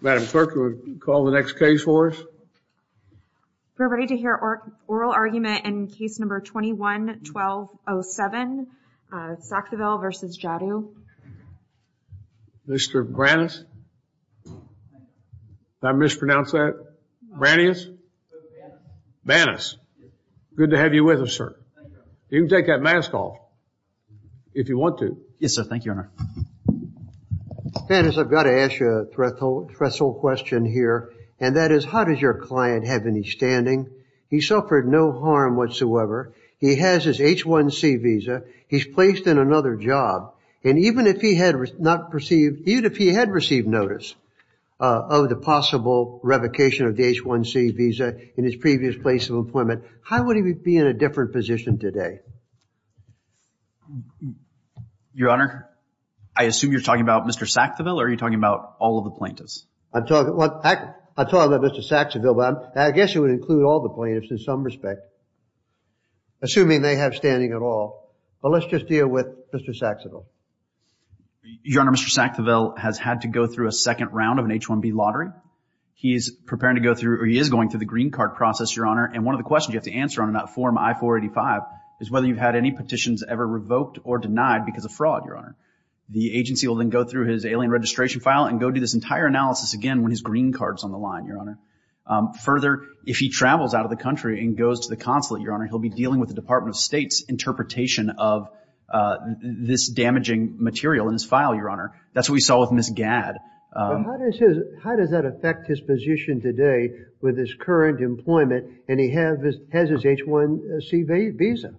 Madam Clerk, will you call the next case for us? We're ready to hear oral argument in case number 21-1207, Sakthivel v. Jaddou. Mr. Bannas? Did I mispronounce that? Bannas? Bannas. Bannas. Good to have you with us, sir. You can take that mask off, if you want to. Yes, sir. Thank you, Your Honor. Bannas, I've got to ask you a threshold question here, and that is, how does your client have any standing? He suffered no harm whatsoever. He has his H-1C visa. He's placed in another job. And even if he had received notice of the possible revocation of the H-1C visa in his previous place of employment, how would he be in a different position today? Your Honor, I assume you're talking about Mr. Sakthivel, or are you talking about all of the plaintiffs? I'm talking about Mr. Sakthivel, but I guess you would include all the plaintiffs in some respect, assuming they have standing at all. But let's just deal with Mr. Sakthivel. Your Honor, Mr. Sakthivel has had to go through a second round of an H-1B lottery. He is preparing to go through, or he is going through the green card process, Your Honor. And one of the questions you have to answer on that form, I-485, is whether you've had any petitions ever revoked or denied because of fraud, Your Honor. The agency will then go through his alien registration file and go do this entire analysis again when his green card is on the line, Your Honor. Further, if he travels out of the country and goes to the consulate, Your Honor, he'll be dealing with the Department of State's interpretation of this damaging material in his file, Your Honor. That's what we saw with Ms. Gadd. But how does that affect his position today with his current employment and he has his H-1C visa?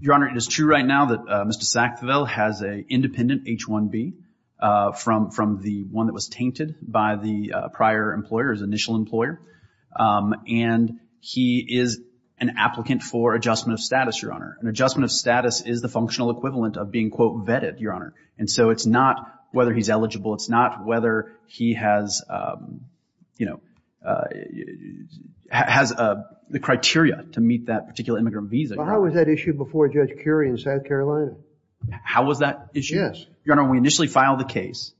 Your Honor, it is true right now that Mr. Sakthivel has an independent H-1B from the one that was tainted by the prior employer, his initial employer. And he is an applicant for adjustment of status, Your Honor. And adjustment of status is the functional equivalent of being, quote, vetted, Your Honor. And so it's not whether he's eligible. It's not whether he has, you know, has the criteria to meet that particular immigrant visa, Your Honor. But how was that issued before Judge Curie in South Carolina? How was that issued? Yes. Your Honor, when we initially filed the case,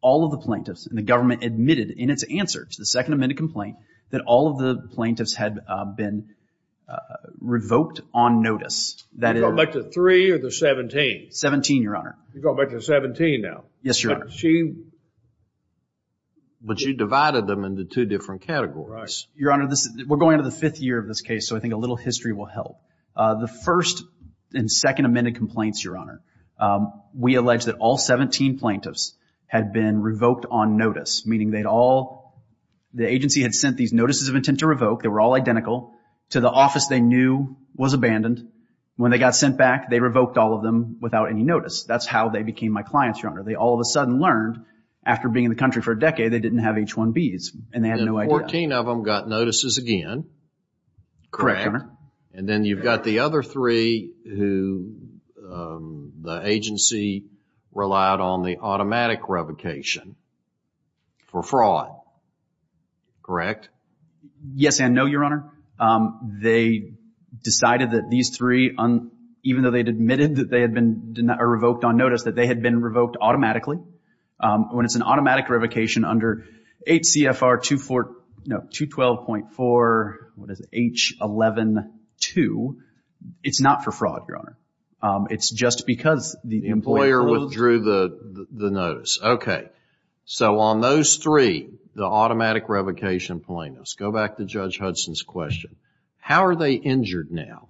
all of the plaintiffs and the government admitted in its answer to the second amended complaint that all of the plaintiffs had been revoked on notice. You go back to three or to 17? 17, Your Honor. You go back to 17 now. Yes, Your Honor. But she... But you divided them into two different categories. Your Honor, we're going into the fifth year of this case, so I think a little history will help. The first and second amended complaints, Your Honor, we allege that all 17 plaintiffs had been revoked on notice, meaning they'd all, the agency had sent these notices of intent to revoke. They were all identical to the office they knew was abandoned. When they got sent back, they revoked all of them without any notice. That's how they became my clients, Your Honor. They all of a sudden learned, after being in the country for a decade, they didn't have H-1Bs, and they had no idea. And 14 of them got notices again. Correct, Your Honor. And then you've got the other three who the agency relied on the automatic revocation for fraud. Correct? Yes and no, Your Honor. They decided that these three, even though they'd admitted that they had been revoked on notice, that they had been revoked automatically. When it's an automatic revocation under HCFR 212.4, what is it, H-11-2, it's not for fraud, Your Honor. It's just because the employee... The employer withdrew the notice. Okay. So on those three, the automatic revocation plaintiffs. Go back to Judge Hudson's question. How are they injured now?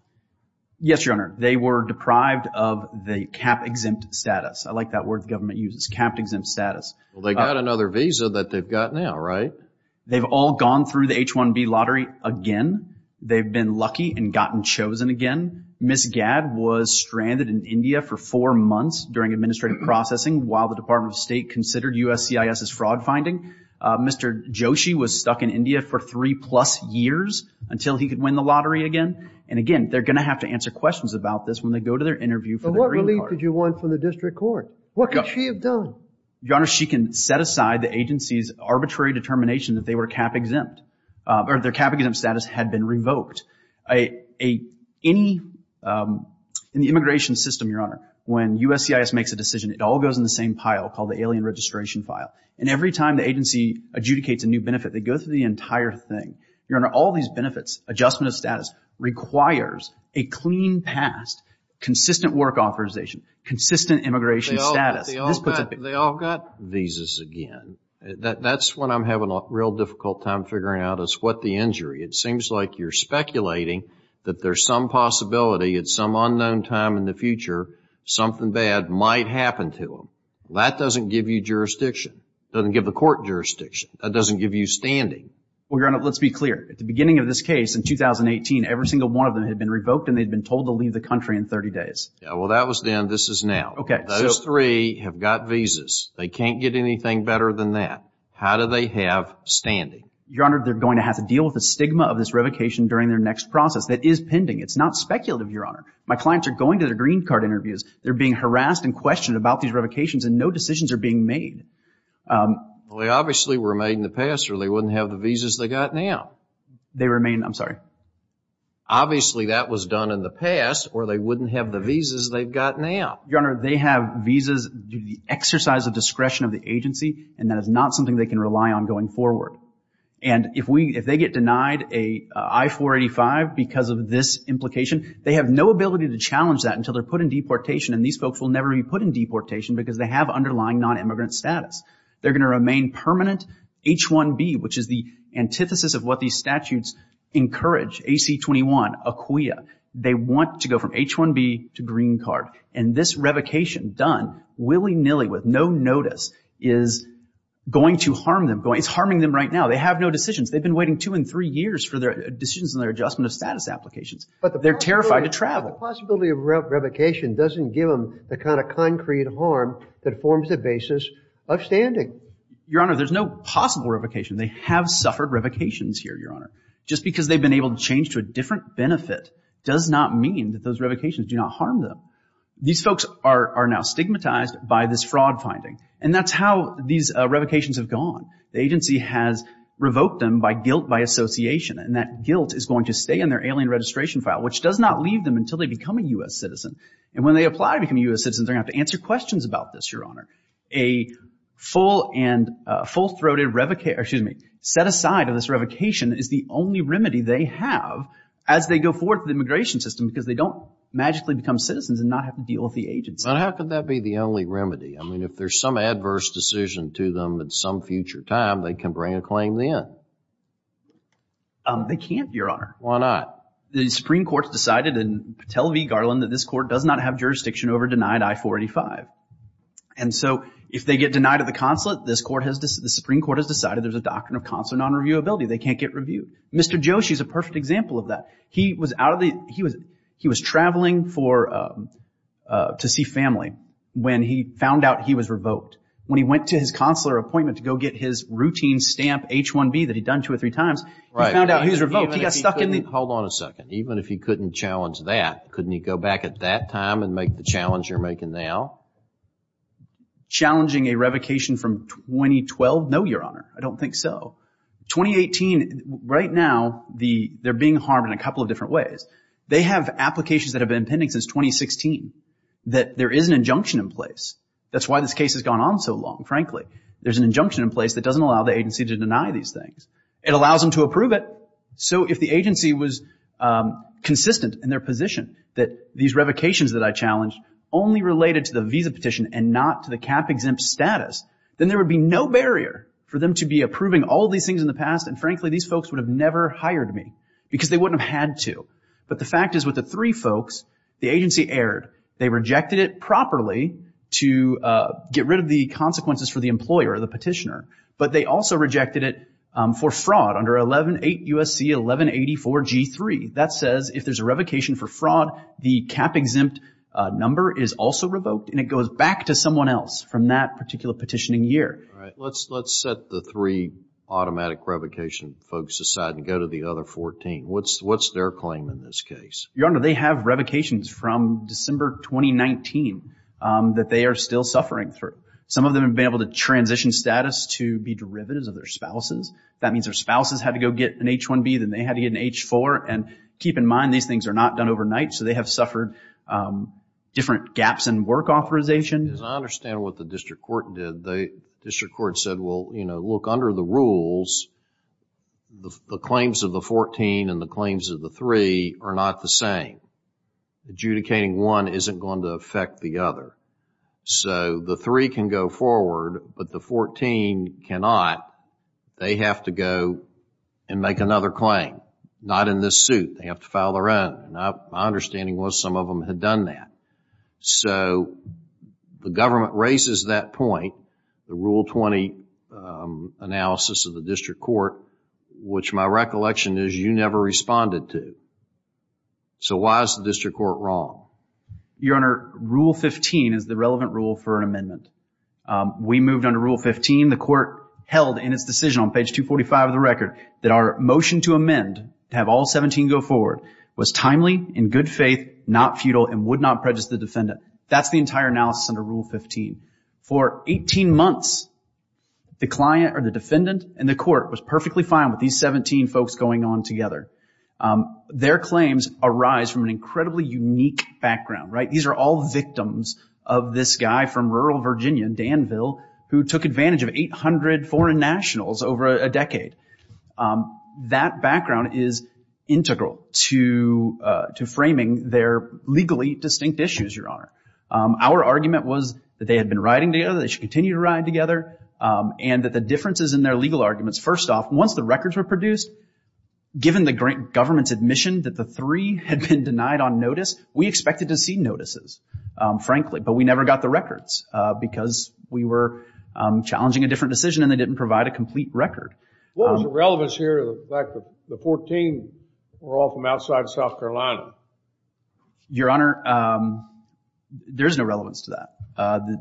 Yes, Your Honor. They were deprived of the CAP-exempt status. I like that word the government uses, CAP-exempt status. Well, they got another visa that they've got now, right? They've all gone through the H-1B lottery again. They've been lucky and gotten chosen again. Ms. Gad was stranded in India for four months during administrative processing while the Department of State considered USCIS as fraud finding. Mr. Joshi was stuck in India for three-plus years until he could win the lottery again. And, again, they're going to have to answer questions about this when they go to their interview for the Green Card. But what relief did you want from the district court? What could she have done? Your Honor, she can set aside the agency's arbitrary determination that they were CAP-exempt, or their CAP-exempt status had been revoked. In the immigration system, Your Honor, when USCIS makes a decision, it all goes in the same pile called the alien registration file. And every time the agency adjudicates a new benefit, they go through the entire thing. Your Honor, all these benefits, adjustment of status, requires a clean past, consistent work authorization, consistent immigration status. They all got visas again. That's what I'm having a real difficult time figuring out is what the injury. It seems like you're speculating that there's some possibility at some unknown time in the future, something bad might happen to them. That doesn't give you jurisdiction. Doesn't give the court jurisdiction. That doesn't give you standing. Well, Your Honor, let's be clear. At the beginning of this case in 2018, every single one of them had been revoked and they'd been told to leave the country in 30 days. Yeah, well, that was then. This is now. Those three have got visas. They can't get anything better than that. How do they have standing? Your Honor, they're going to have to deal with the stigma of this revocation during their next process. That is pending. It's not speculative, Your Honor. My clients are going to their Green Card interviews. They're being harassed and questioned about these revocations and no decisions are being made. Well, they obviously were made in the past or they wouldn't have the visas they've got now. They remain, I'm sorry. Obviously that was done in the past or they wouldn't have the visas they've got now. Your Honor, they have visas due to the exercise of discretion of the agency and that is not something they can rely on going forward. And if they get denied an I-485 because of this implication, they have no ability to challenge that until they're put in deportation and these folks will never be put in deportation because they have underlying non-immigrant status. They're going to remain permanent. H-1B, which is the antithesis of what these statutes encourage, AC-21, ACUIA, they want to go from H-1B to Green Card. And this revocation done willy-nilly with no notice is going to harm them. It's harming them right now. They have no decisions. They've been waiting two and three years for their decisions and their adjustment of status applications. They're terrified to travel. The possibility of revocation doesn't give them the kind of concrete harm that forms the basis of standing. Your Honor, there's no possible revocation. They have suffered revocations here, Your Honor. Just because they've been able to change to a different benefit does not mean that those revocations do not harm them. These folks are now stigmatized by this fraud finding. And that's how these revocations have gone. The agency has revoked them by guilt by association and that guilt is going to stay in their alien registration file, which does not leave them until they become a U.S. citizen. And when they apply to become a U.S. citizen, they're going to have to answer questions about this, Your Honor. A full-throated revocation, excuse me, set aside of this revocation is the only remedy they have as they go forward with the immigration system because they don't magically become citizens and not have to deal with the agency. But how could that be the only remedy? I mean, if there's some adverse decision to them at some future time, they can bring a claim then. They can't, Your Honor. Why not? The Supreme Court has decided in Patel v. Garland that this court does not have jurisdiction over denied I-485. And so if they get denied at the consulate, the Supreme Court has decided there's a doctrine of consular non-reviewability. They can't get reviewed. Mr. Joshi is a perfect example of that. He was traveling to see family when he found out he was revoked. When he went to his consular appointment to go get his routine stamp H-1B that he'd done two or three times, he found out he was revoked. He got stuck in the— Hold on a second. Even if he couldn't challenge that, couldn't he go back at that time and make the challenge you're making now? Challenging a revocation from 2012? No, Your Honor. I don't think so. 2018, right now, they're being harmed in a couple of different ways. They have applications that have been pending since 2016 that there is an injunction in place. That's why this case has gone on so long, frankly. There's an injunction in place that doesn't allow the agency to deny these things. It allows them to approve it. So if the agency was consistent in their position that these revocations that I challenged only related to the visa petition and not to the cap-exempt status, then there would be no barrier for them to be approving all these things in the past, and frankly, these folks would have never hired me because they wouldn't have had to. But the fact is with the three folks, the agency erred. They rejected it properly to get rid of the consequences for the employer or the petitioner, but they also rejected it for fraud under 11.8 U.S.C. 1184 G.3. That says if there's a revocation for fraud, the cap-exempt number is also revoked, and it goes back to someone else from that particular petitioning year. All right. Let's set the three automatic revocation folks aside and go to the other 14. What's their claim in this case? Your Honor, they have revocations from December 2019 that they are still suffering through. Some of them have been able to transition status to be derivatives of their spouses. That means their spouses had to go get an H-1B, then they had to get an H-4, and keep in mind these things are not done overnight, so they have suffered different gaps in work authorization. I understand what the district court did. The district court said, well, you know, look, under the rules, the claims of the 14 and the claims of the three are not the same. Adjudicating one isn't going to affect the other. The three can go forward, but the 14 cannot. They have to go and make another claim. Not in this suit. They have to file their own. My understanding was some of them had done that. The government raises that point. The Rule 20 analysis of the district court, which my recollection is you never responded to. So why is the district court wrong? Your Honor, Rule 15 is the relevant rule for an amendment. We moved under Rule 15. The court held in its decision on page 245 of the record that our motion to amend, to have all 17 go forward, was timely, in good faith, not futile, and would not prejudice the defendant. That's the entire analysis under Rule 15. For 18 months, the client or the defendant in the court was perfectly fine with these 17 folks going on together. Their claims arise from an incredibly unique background, right? These are all victims of this guy from rural Virginia, Danville, who took advantage of 800 foreign nationals over a decade. That background is integral to framing their legally distinct issues, Your Honor. Our argument was that they had been riding together, they should continue to ride together, and that the differences in their legal arguments, first off, once the records were produced, given the government's admission that the three had been denied on notice, we expected to see notices, frankly, but we never got the records because we were challenging a different decision and they didn't provide a complete record. What was the relevance here of the fact that the 14 were all from outside South Carolina? Your Honor, there is no relevance to that.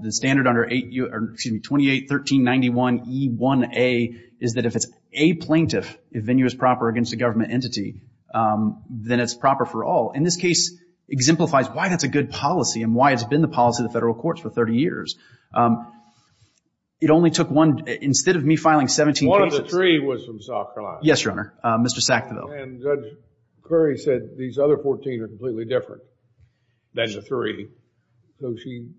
The standard under 28-1391E1A is that if it's a plaintiff, if venue is proper against a government entity, then it's proper for all. And this case exemplifies why that's a good policy and why it's been the policy of the federal courts for 30 years. It only took one, instead of me filing 17 cases. One of the three was from South Carolina. Yes, Your Honor, Mr. Sackville. And Judge Curry said these other 14 are completely different than the three. So she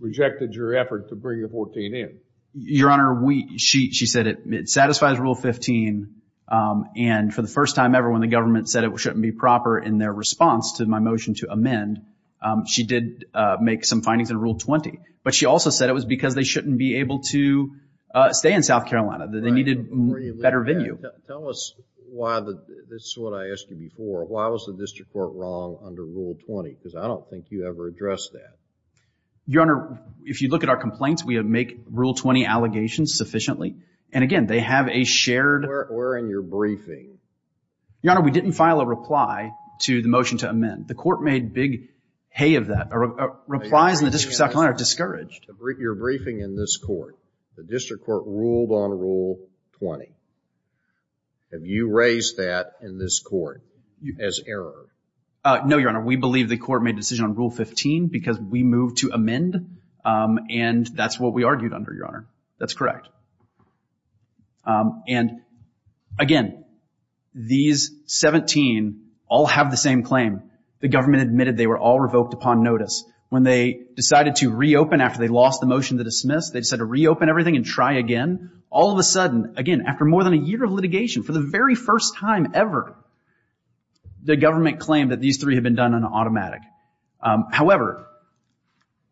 rejected your effort to bring the 14 in. Your Honor, she said it satisfies Rule 15, and for the first time ever when the government said it shouldn't be proper in their response to my motion to amend, she did make some findings in Rule 20. But she also said it was because they shouldn't be able to stay in South Carolina, that they needed a better venue. Tell us why this is what I asked you before. Why was the district court wrong under Rule 20? Because I don't think you ever addressed that. Your Honor, if you look at our complaints, we make Rule 20 allegations sufficiently. And again, they have a shared… Where in your briefing? Your Honor, we didn't file a reply to the motion to amend. The court made big hay of that. Replies in the district of South Carolina are discouraged. Your briefing in this court, the district court ruled on Rule 20. Have you raised that in this court as error? No, Your Honor. We believe the court made a decision on Rule 15 because we moved to amend, and that's what we argued under, Your Honor. That's correct. And again, these 17 all have the same claim. The government admitted they were all revoked upon notice. When they decided to reopen after they lost the motion to dismiss, they decided to reopen everything and try again. All of a sudden, again, after more than a year of litigation, for the very first time ever, the government claimed that these three had been done on automatic. However,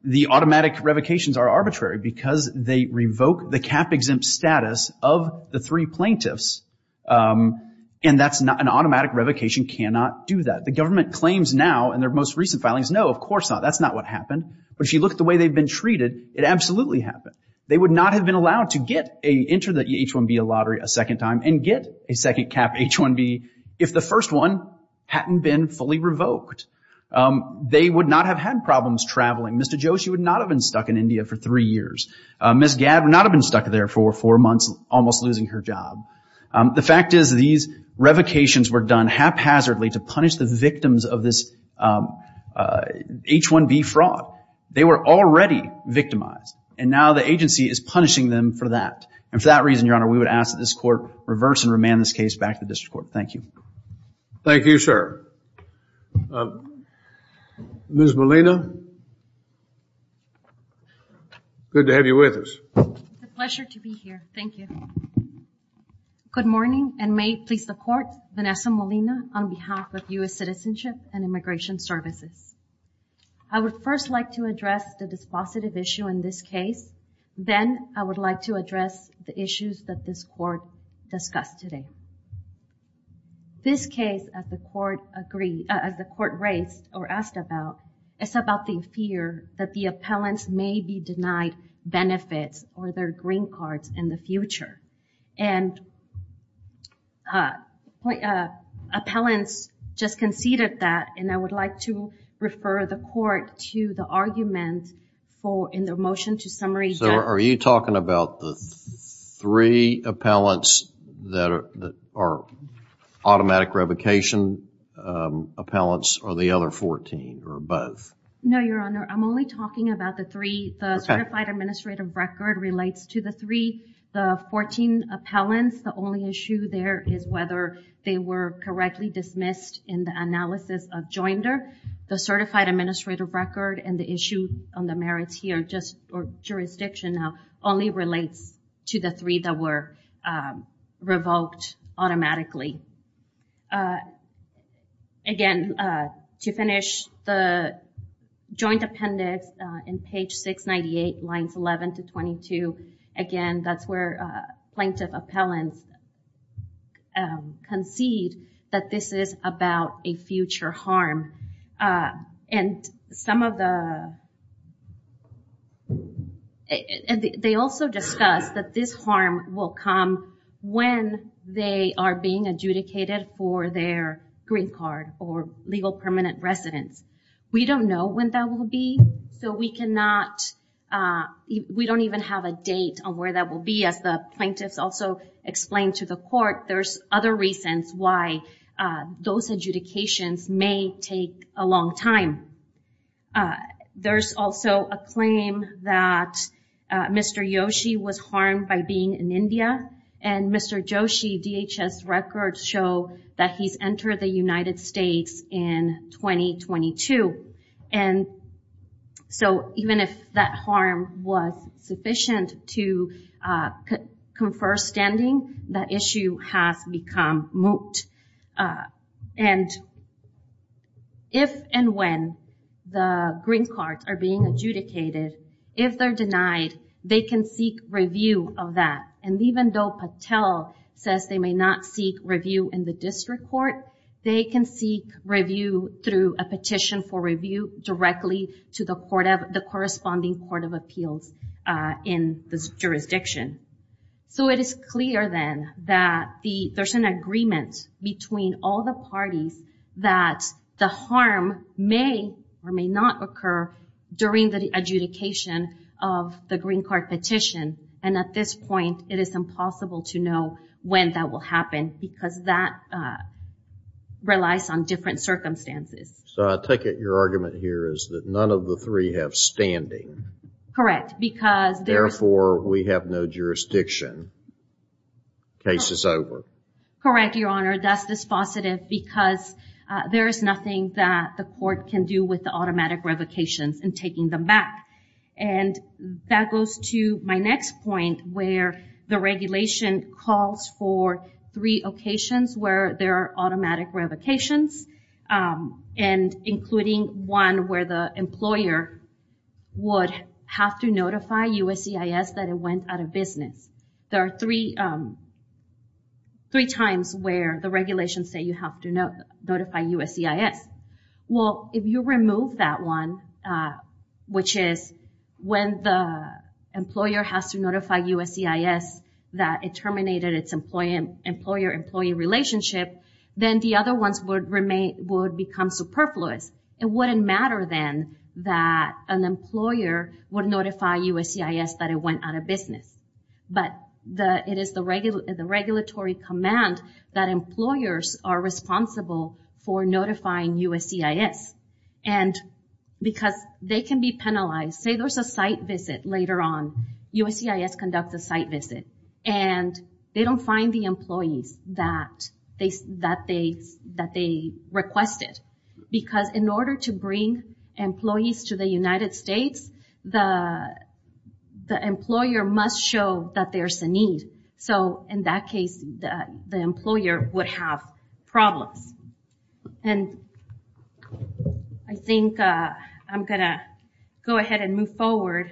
the automatic revocations are arbitrary because they revoke the cap-exempt status of the three plaintiffs, and an automatic revocation cannot do that. The government claims now in their most recent filings, no, of course not, that's not what happened. But if you look at the way they've been treated, it absolutely happened. They would not have been allowed to enter the H-1B lottery a second time and get a second cap H-1B if the first one hadn't been fully revoked. They would not have had problems traveling. Mr. Joshi would not have been stuck in India for three years. Ms. Gad would not have been stuck there for four months, almost losing her job. The fact is, these revocations were done haphazardly to punish the victims of this H-1B fraud. They were already victimized, and now the agency is punishing them for that. And for that reason, Your Honor, we would ask that this court reverse and remand this case back to the district court. Thank you. Thank you, sir. Ms. Molina? Good to have you with us. It's a pleasure to be here. Thank you. Good morning, and may it please the Court, Vanessa Molina, on behalf of U.S. Citizenship and Immigration Services. I would first like to address the dispositive issue in this case. Then I would like to address the issues that this Court discussed today. This case, as the Court raised or asked about, is about the fear that the appellants may be denied benefits or their green cards in the future. Appellants just conceded that, and I would like to refer the Court to the argument in their motion to summary. Are you talking about the three appellants that are automatic revocation appellants or the other 14 or both? No, Your Honor. I'm only talking about the three. The certified administrative record relates to the three. The 14 appellants, the only issue there is whether they were correctly dismissed in the analysis of joinder. The certified administrative record and the issue on the merits here, or jurisdiction now, only relates to the three that were revoked automatically. Again, to finish, the joint appendix in page 698, lines 11 to 22, again, that's where plaintiff appellants concede that this is about a future harm. And some of the... They also discuss that this harm will come when they are being adjudicated for their green card or legal permanent residence. We don't know when that will be, so we cannot... We don't even have a date on where that will be. As the plaintiffs also explained to the Court, there's other reasons why those adjudications may take a long time. There's also a claim that Mr. Yoshi was harmed by being in India, and Mr. Yoshi DHS records show that he's entered the United States in 2022. And so even if that harm was sufficient to confer standing, that issue has become moot. And if and when the green cards are being adjudicated, if they're denied, they can seek review of that. And even though Patel says they may not seek review in the district court, they can seek review through a petition for review directly to the corresponding Court of Appeals in the jurisdiction. So it is clear then that there's an agreement between all the parties that the harm may or may not occur during the adjudication of the green card petition. And at this point, it is impossible to know when that will happen because that relies on different circumstances. So I take it your argument here is that none of the three have standing. Correct. Therefore, we have no jurisdiction. Case is over. Correct, Your Honor. That's dispositive because there is nothing that the court can do with the automatic revocations in taking them back. And that goes to my next point where the regulation calls for three occasions where there are automatic revocations, and including one where the employer would have to notify USCIS that it went out of business. There are three times where the regulations say you have to notify USCIS. Well, if you remove that one, which is when the employer has to notify USCIS that it terminated its employer-employee relationship, then the other ones would become superfluous. It wouldn't matter then that an employer would notify USCIS that it went out of business. But it is the regulatory command that employers are responsible for notifying USCIS. And because they can be penalized. Say there's a site visit later on. USCIS conducts a site visit. And they don't find the employees that they requested. Because in order to bring employees to the United States, the employer must show that there's a need. So in that case, the employer would have problems. And I think I'm going to go ahead and move forward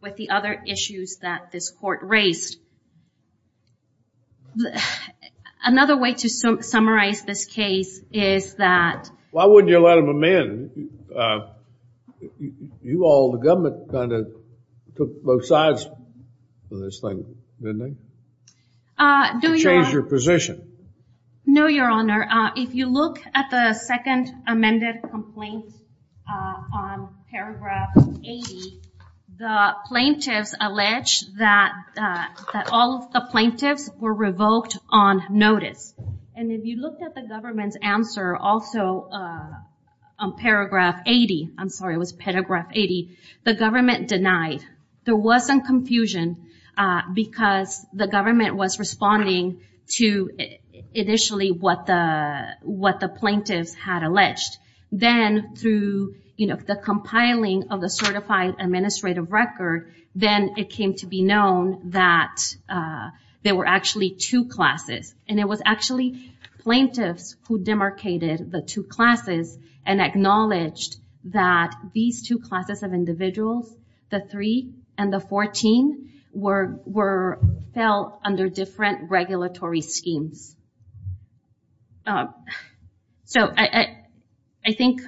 with the other issues that this court raised. Another way to summarize this case is that. Why wouldn't you let them amend? You all, the government, kind of took both sides on this thing, didn't they? To change your position. No, Your Honor. If you look at the second amended complaint on paragraph 80, the plaintiffs allege that all of the plaintiffs were revoked on notice. And if you look at the government's answer also on paragraph 80, I'm sorry, it was paragraph 80, the government denied. There was some confusion because the government was responding to initially what the plaintiffs had alleged. Then through the compiling of the certified administrative record, then it came to be known that there were actually two classes. And it was actually plaintiffs who demarcated the two classes and acknowledged that these two classes of individuals, the 3 and the 14, were held under different regulatory schemes. So I think...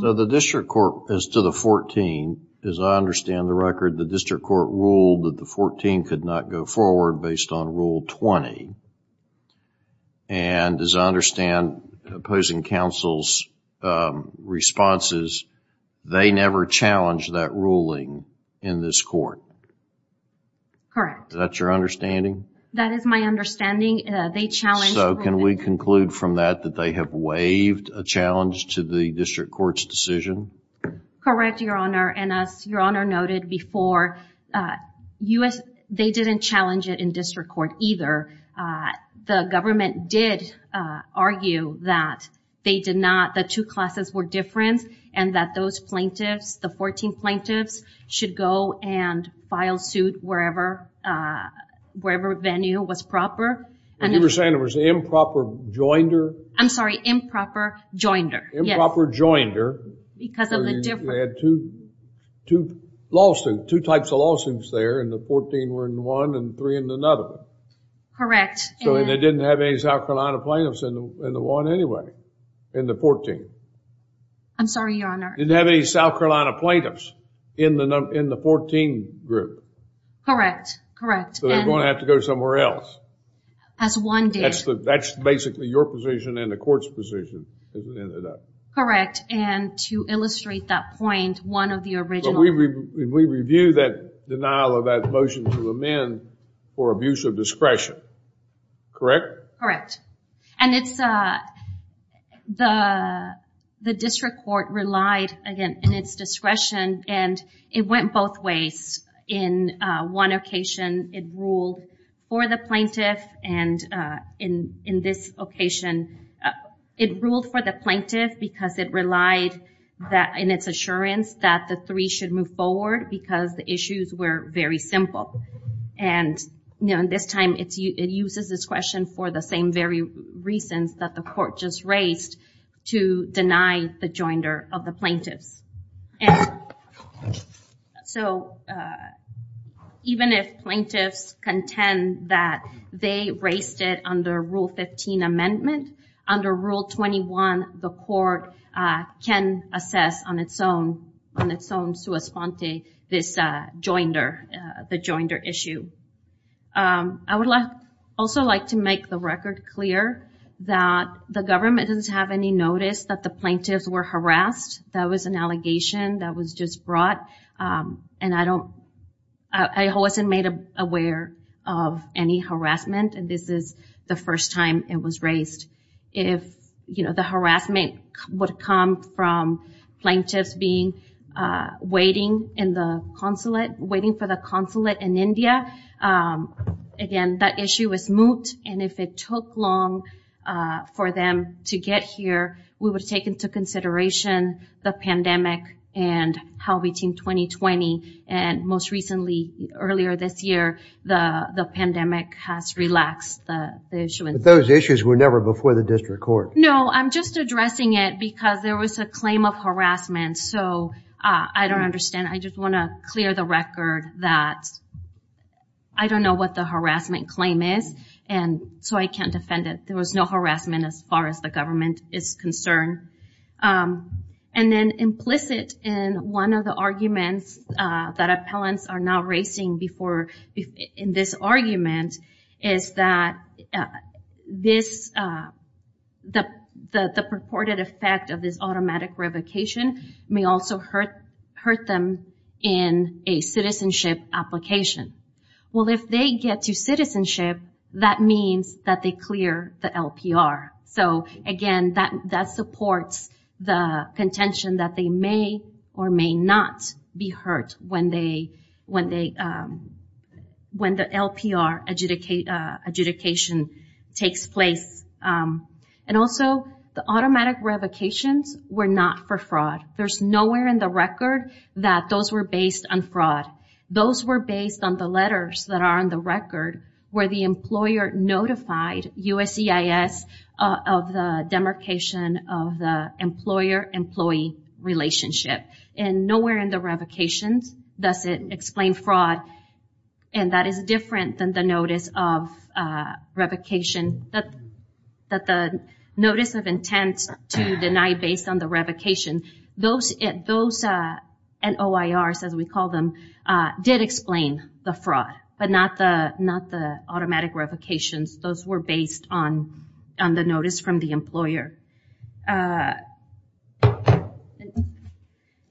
So the district court, as to the 14, as I understand the record, the district court ruled that the 14 could not go forward based on Rule 20. And as I understand opposing counsel's responses, they never challenged that ruling in this court. Correct. Is that your understanding? That is my understanding. So can we conclude from that that they have waived a challenge to the district court's decision? Correct, Your Honor. And as Your Honor noted before, they didn't challenge it in district court either. The government did argue that the two classes were different and that those plaintiffs, the 14 plaintiffs, should go and file suit wherever venue was proper. You were saying it was improper joinder? I'm sorry, improper joinder. Improper joinder. Because of the difference. They had two lawsuits, two types of lawsuits there, and the 14 were in one and the 3 in another one. Correct. So they didn't have any South Carolina plaintiffs in the one anyway, in the 14. I'm sorry, Your Honor. They didn't have any South Carolina plaintiffs in the 14 group. Correct, correct. So they're going to have to go somewhere else. As one did. That's basically your position and the court's position. Correct. And to illustrate that point, one of the original We review that denial of that motion to amend for abuse of discretion. Correct? Correct. And it's the district court relied, again, in its discretion, and it went both ways. In one occasion, it ruled for the plaintiff, and in this occasion, it ruled for the plaintiff because it relied, in its assurance, that the three should move forward because the issues were very simple. And this time it uses discretion for the same very reasons that the court just raised to deny the joinder of the plaintiffs. And so even if plaintiffs contend that they raised it under Rule 15 amendment, under Rule 21, the court can assess on its own, on its own sua sponte, this joinder, the joinder issue. I would also like to make the record clear that the government doesn't have any notice that the plaintiffs were harassed. That was an allegation that was just brought, and I wasn't made aware of any harassment, and this is the first time it was raised. If the harassment would come from plaintiffs being waiting in the consulate, waiting for the consulate in India, again, that issue was moved, and if it took long for them to get here, we would take into consideration the pandemic and how we team 2020, and most recently, earlier this year, the pandemic has relaxed the issue. But those issues were never before the district court. No, I'm just addressing it because there was a claim of harassment, so I don't understand. I just want to clear the record that I don't know what the harassment claim is, and so I can't defend it. There was no harassment as far as the government is concerned, and then implicit in one of the arguments that appellants are now raising in this argument is that the purported effect of this automatic revocation may also hurt them in a citizenship application. Well, if they get to citizenship, that means that they clear the LPR. So, again, that supports the contention that they may or may not be hurt when the LPR adjudication takes place. And also, the automatic revocations were not for fraud. There's nowhere in the record that those were based on fraud. Those were based on the letters that are on the record where the employer notified USCIS of the demarcation of the employer-employee relationship. And nowhere in the revocations does it explain fraud, and that is different than the notice of revocation, that the notice of intent to deny based on the revocation. Those NOIRs, as we call them, did explain the fraud, but not the automatic revocations. Those were based on the notice from the employer.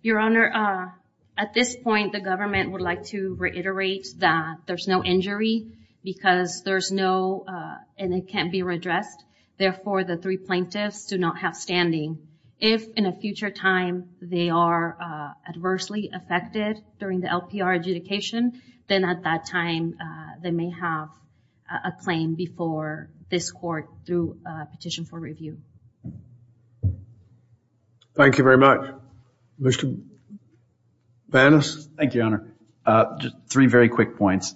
Your Honor, at this point the government would like to reiterate that there's no injury because there's no and it can't be redressed. Therefore, the three plaintiffs do not have standing. If in a future time they are adversely affected during the LPR adjudication, then at that time they may have a claim before this court through a petition for review. Thank you very much. Mr. Banas. Thank you, Your Honor. Three very quick points.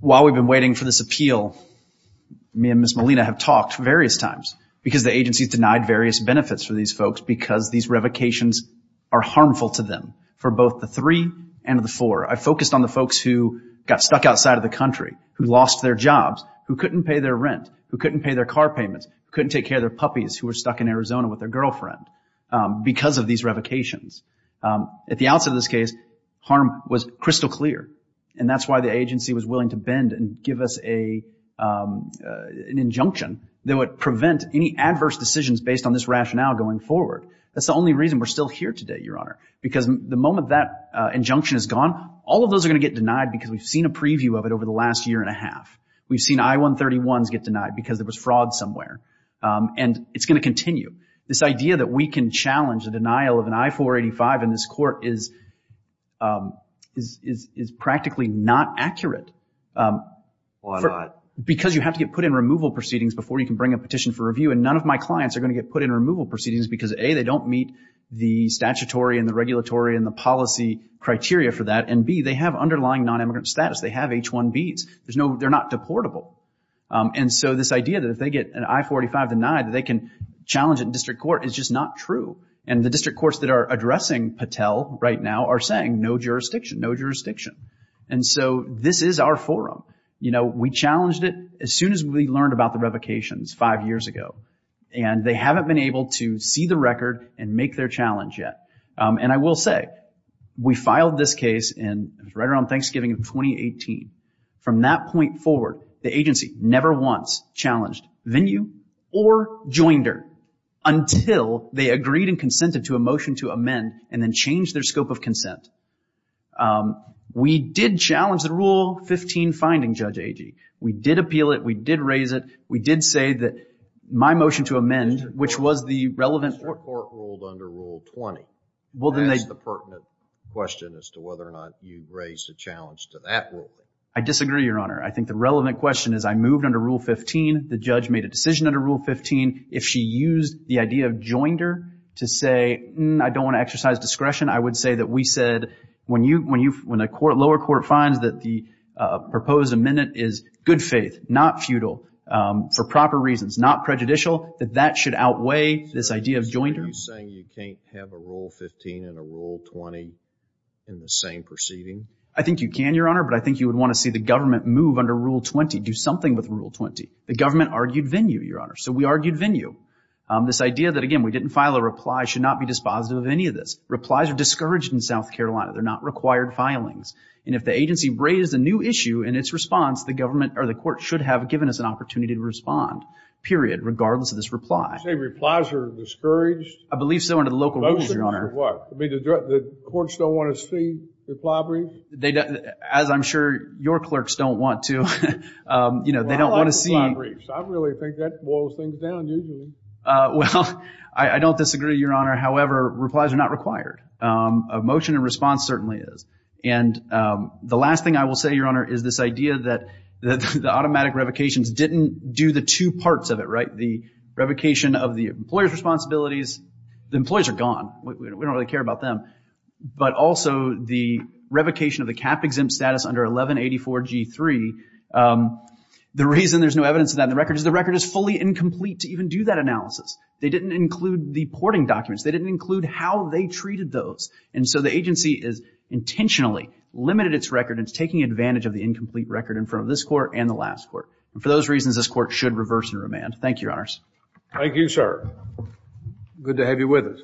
While we've been waiting for this appeal, me and Ms. Molina have talked various times because the agency has denied various benefits for these folks because these revocations are harmful to them for both the three and the four. I focused on the folks who got stuck outside of the country, who lost their jobs, who couldn't pay their rent, who couldn't pay their car payments, who couldn't take care of their puppies who were stuck in Arizona with their girlfriend because of these revocations. At the outset of this case, harm was crystal clear, and that's why the agency was willing to bend and give us an injunction that would prevent any adverse decisions based on this rationale going forward. That's the only reason we're still here today, Your Honor, because the moment that injunction is gone, all of those are going to get denied because we've seen a preview of it over the last year and a half. We've seen I-131s get denied because there was fraud somewhere, and it's going to continue. This idea that we can challenge the denial of an I-485 in this court is practically not accurate. Why not? Well, because you have to get put in removal proceedings before you can bring a petition for review, and none of my clients are going to get put in removal proceedings because, A, they don't meet the statutory and the regulatory and the policy criteria for that, and, B, they have underlying non-immigrant status. They have H-1Bs. They're not deportable. And so this idea that if they get an I-485 denied, that they can challenge it in district court is just not true. And the district courts that are addressing Patel right now are saying, no jurisdiction, no jurisdiction. And so this is our forum. You know, we challenged it as soon as we learned about the revocations five years ago, and they haven't been able to see the record and make their challenge yet. And I will say, we filed this case right around Thanksgiving of 2018. From that point forward, the agency never once challenged venue or joinder until they agreed and consented to a motion to amend and then change their scope of consent. We did challenge the Rule 15 finding, Judge Agee. We did appeal it. We did raise it. We did say that my motion to amend, which was the relevant court rule. The district court ruled under Rule 20. That's the pertinent question as to whether or not you raised a challenge to that ruling. I disagree, Your Honor. I think the relevant question is I moved under Rule 15. The judge made a decision under Rule 15. If she used the idea of joinder to say, I don't want to exercise discretion, I would say that we said when a lower court finds that the proposed amendment is good faith, not futile, for proper reasons, not prejudicial, that that should outweigh this idea of joinder. Are you saying you can't have a Rule 15 and a Rule 20 in the same proceeding? I think you can, Your Honor, but I think you would want to see the government move under Rule 20, do something with Rule 20. The government argued venue, Your Honor. So we argued venue. This idea that, again, we didn't file a reply should not be dispositive of any of this. Replies are discouraged in South Carolina. They're not required filings. And if the agency raised a new issue in its response, the government or the court should have given us an opportunity to respond, period, regardless of this reply. You say replies are discouraged? I believe so under the local rules, Your Honor. The courts don't want to see reply briefs? As I'm sure your clerks don't want to. Well, I like reply briefs. I really think that boils things down usually. Well, I don't disagree, Your Honor. However, replies are not required. A motion in response certainly is. And the last thing I will say, Your Honor, is this idea that the automatic revocations didn't do the two parts of it, right? The revocation of the employer's responsibilities. The employees are gone. We don't really care about them. But also the revocation of the cap-exempt status under 1184G3, the reason there's no evidence of that in the record is the record is fully incomplete to even do that analysis. They didn't include the porting documents. They didn't include how they treated those. And so the agency has intentionally limited its record and is taking advantage of the incomplete record in front of this court and the last court. And for those reasons, this court should reverse and remand. Thank you, Your Honors. Thank you, sir. Good to have you with us.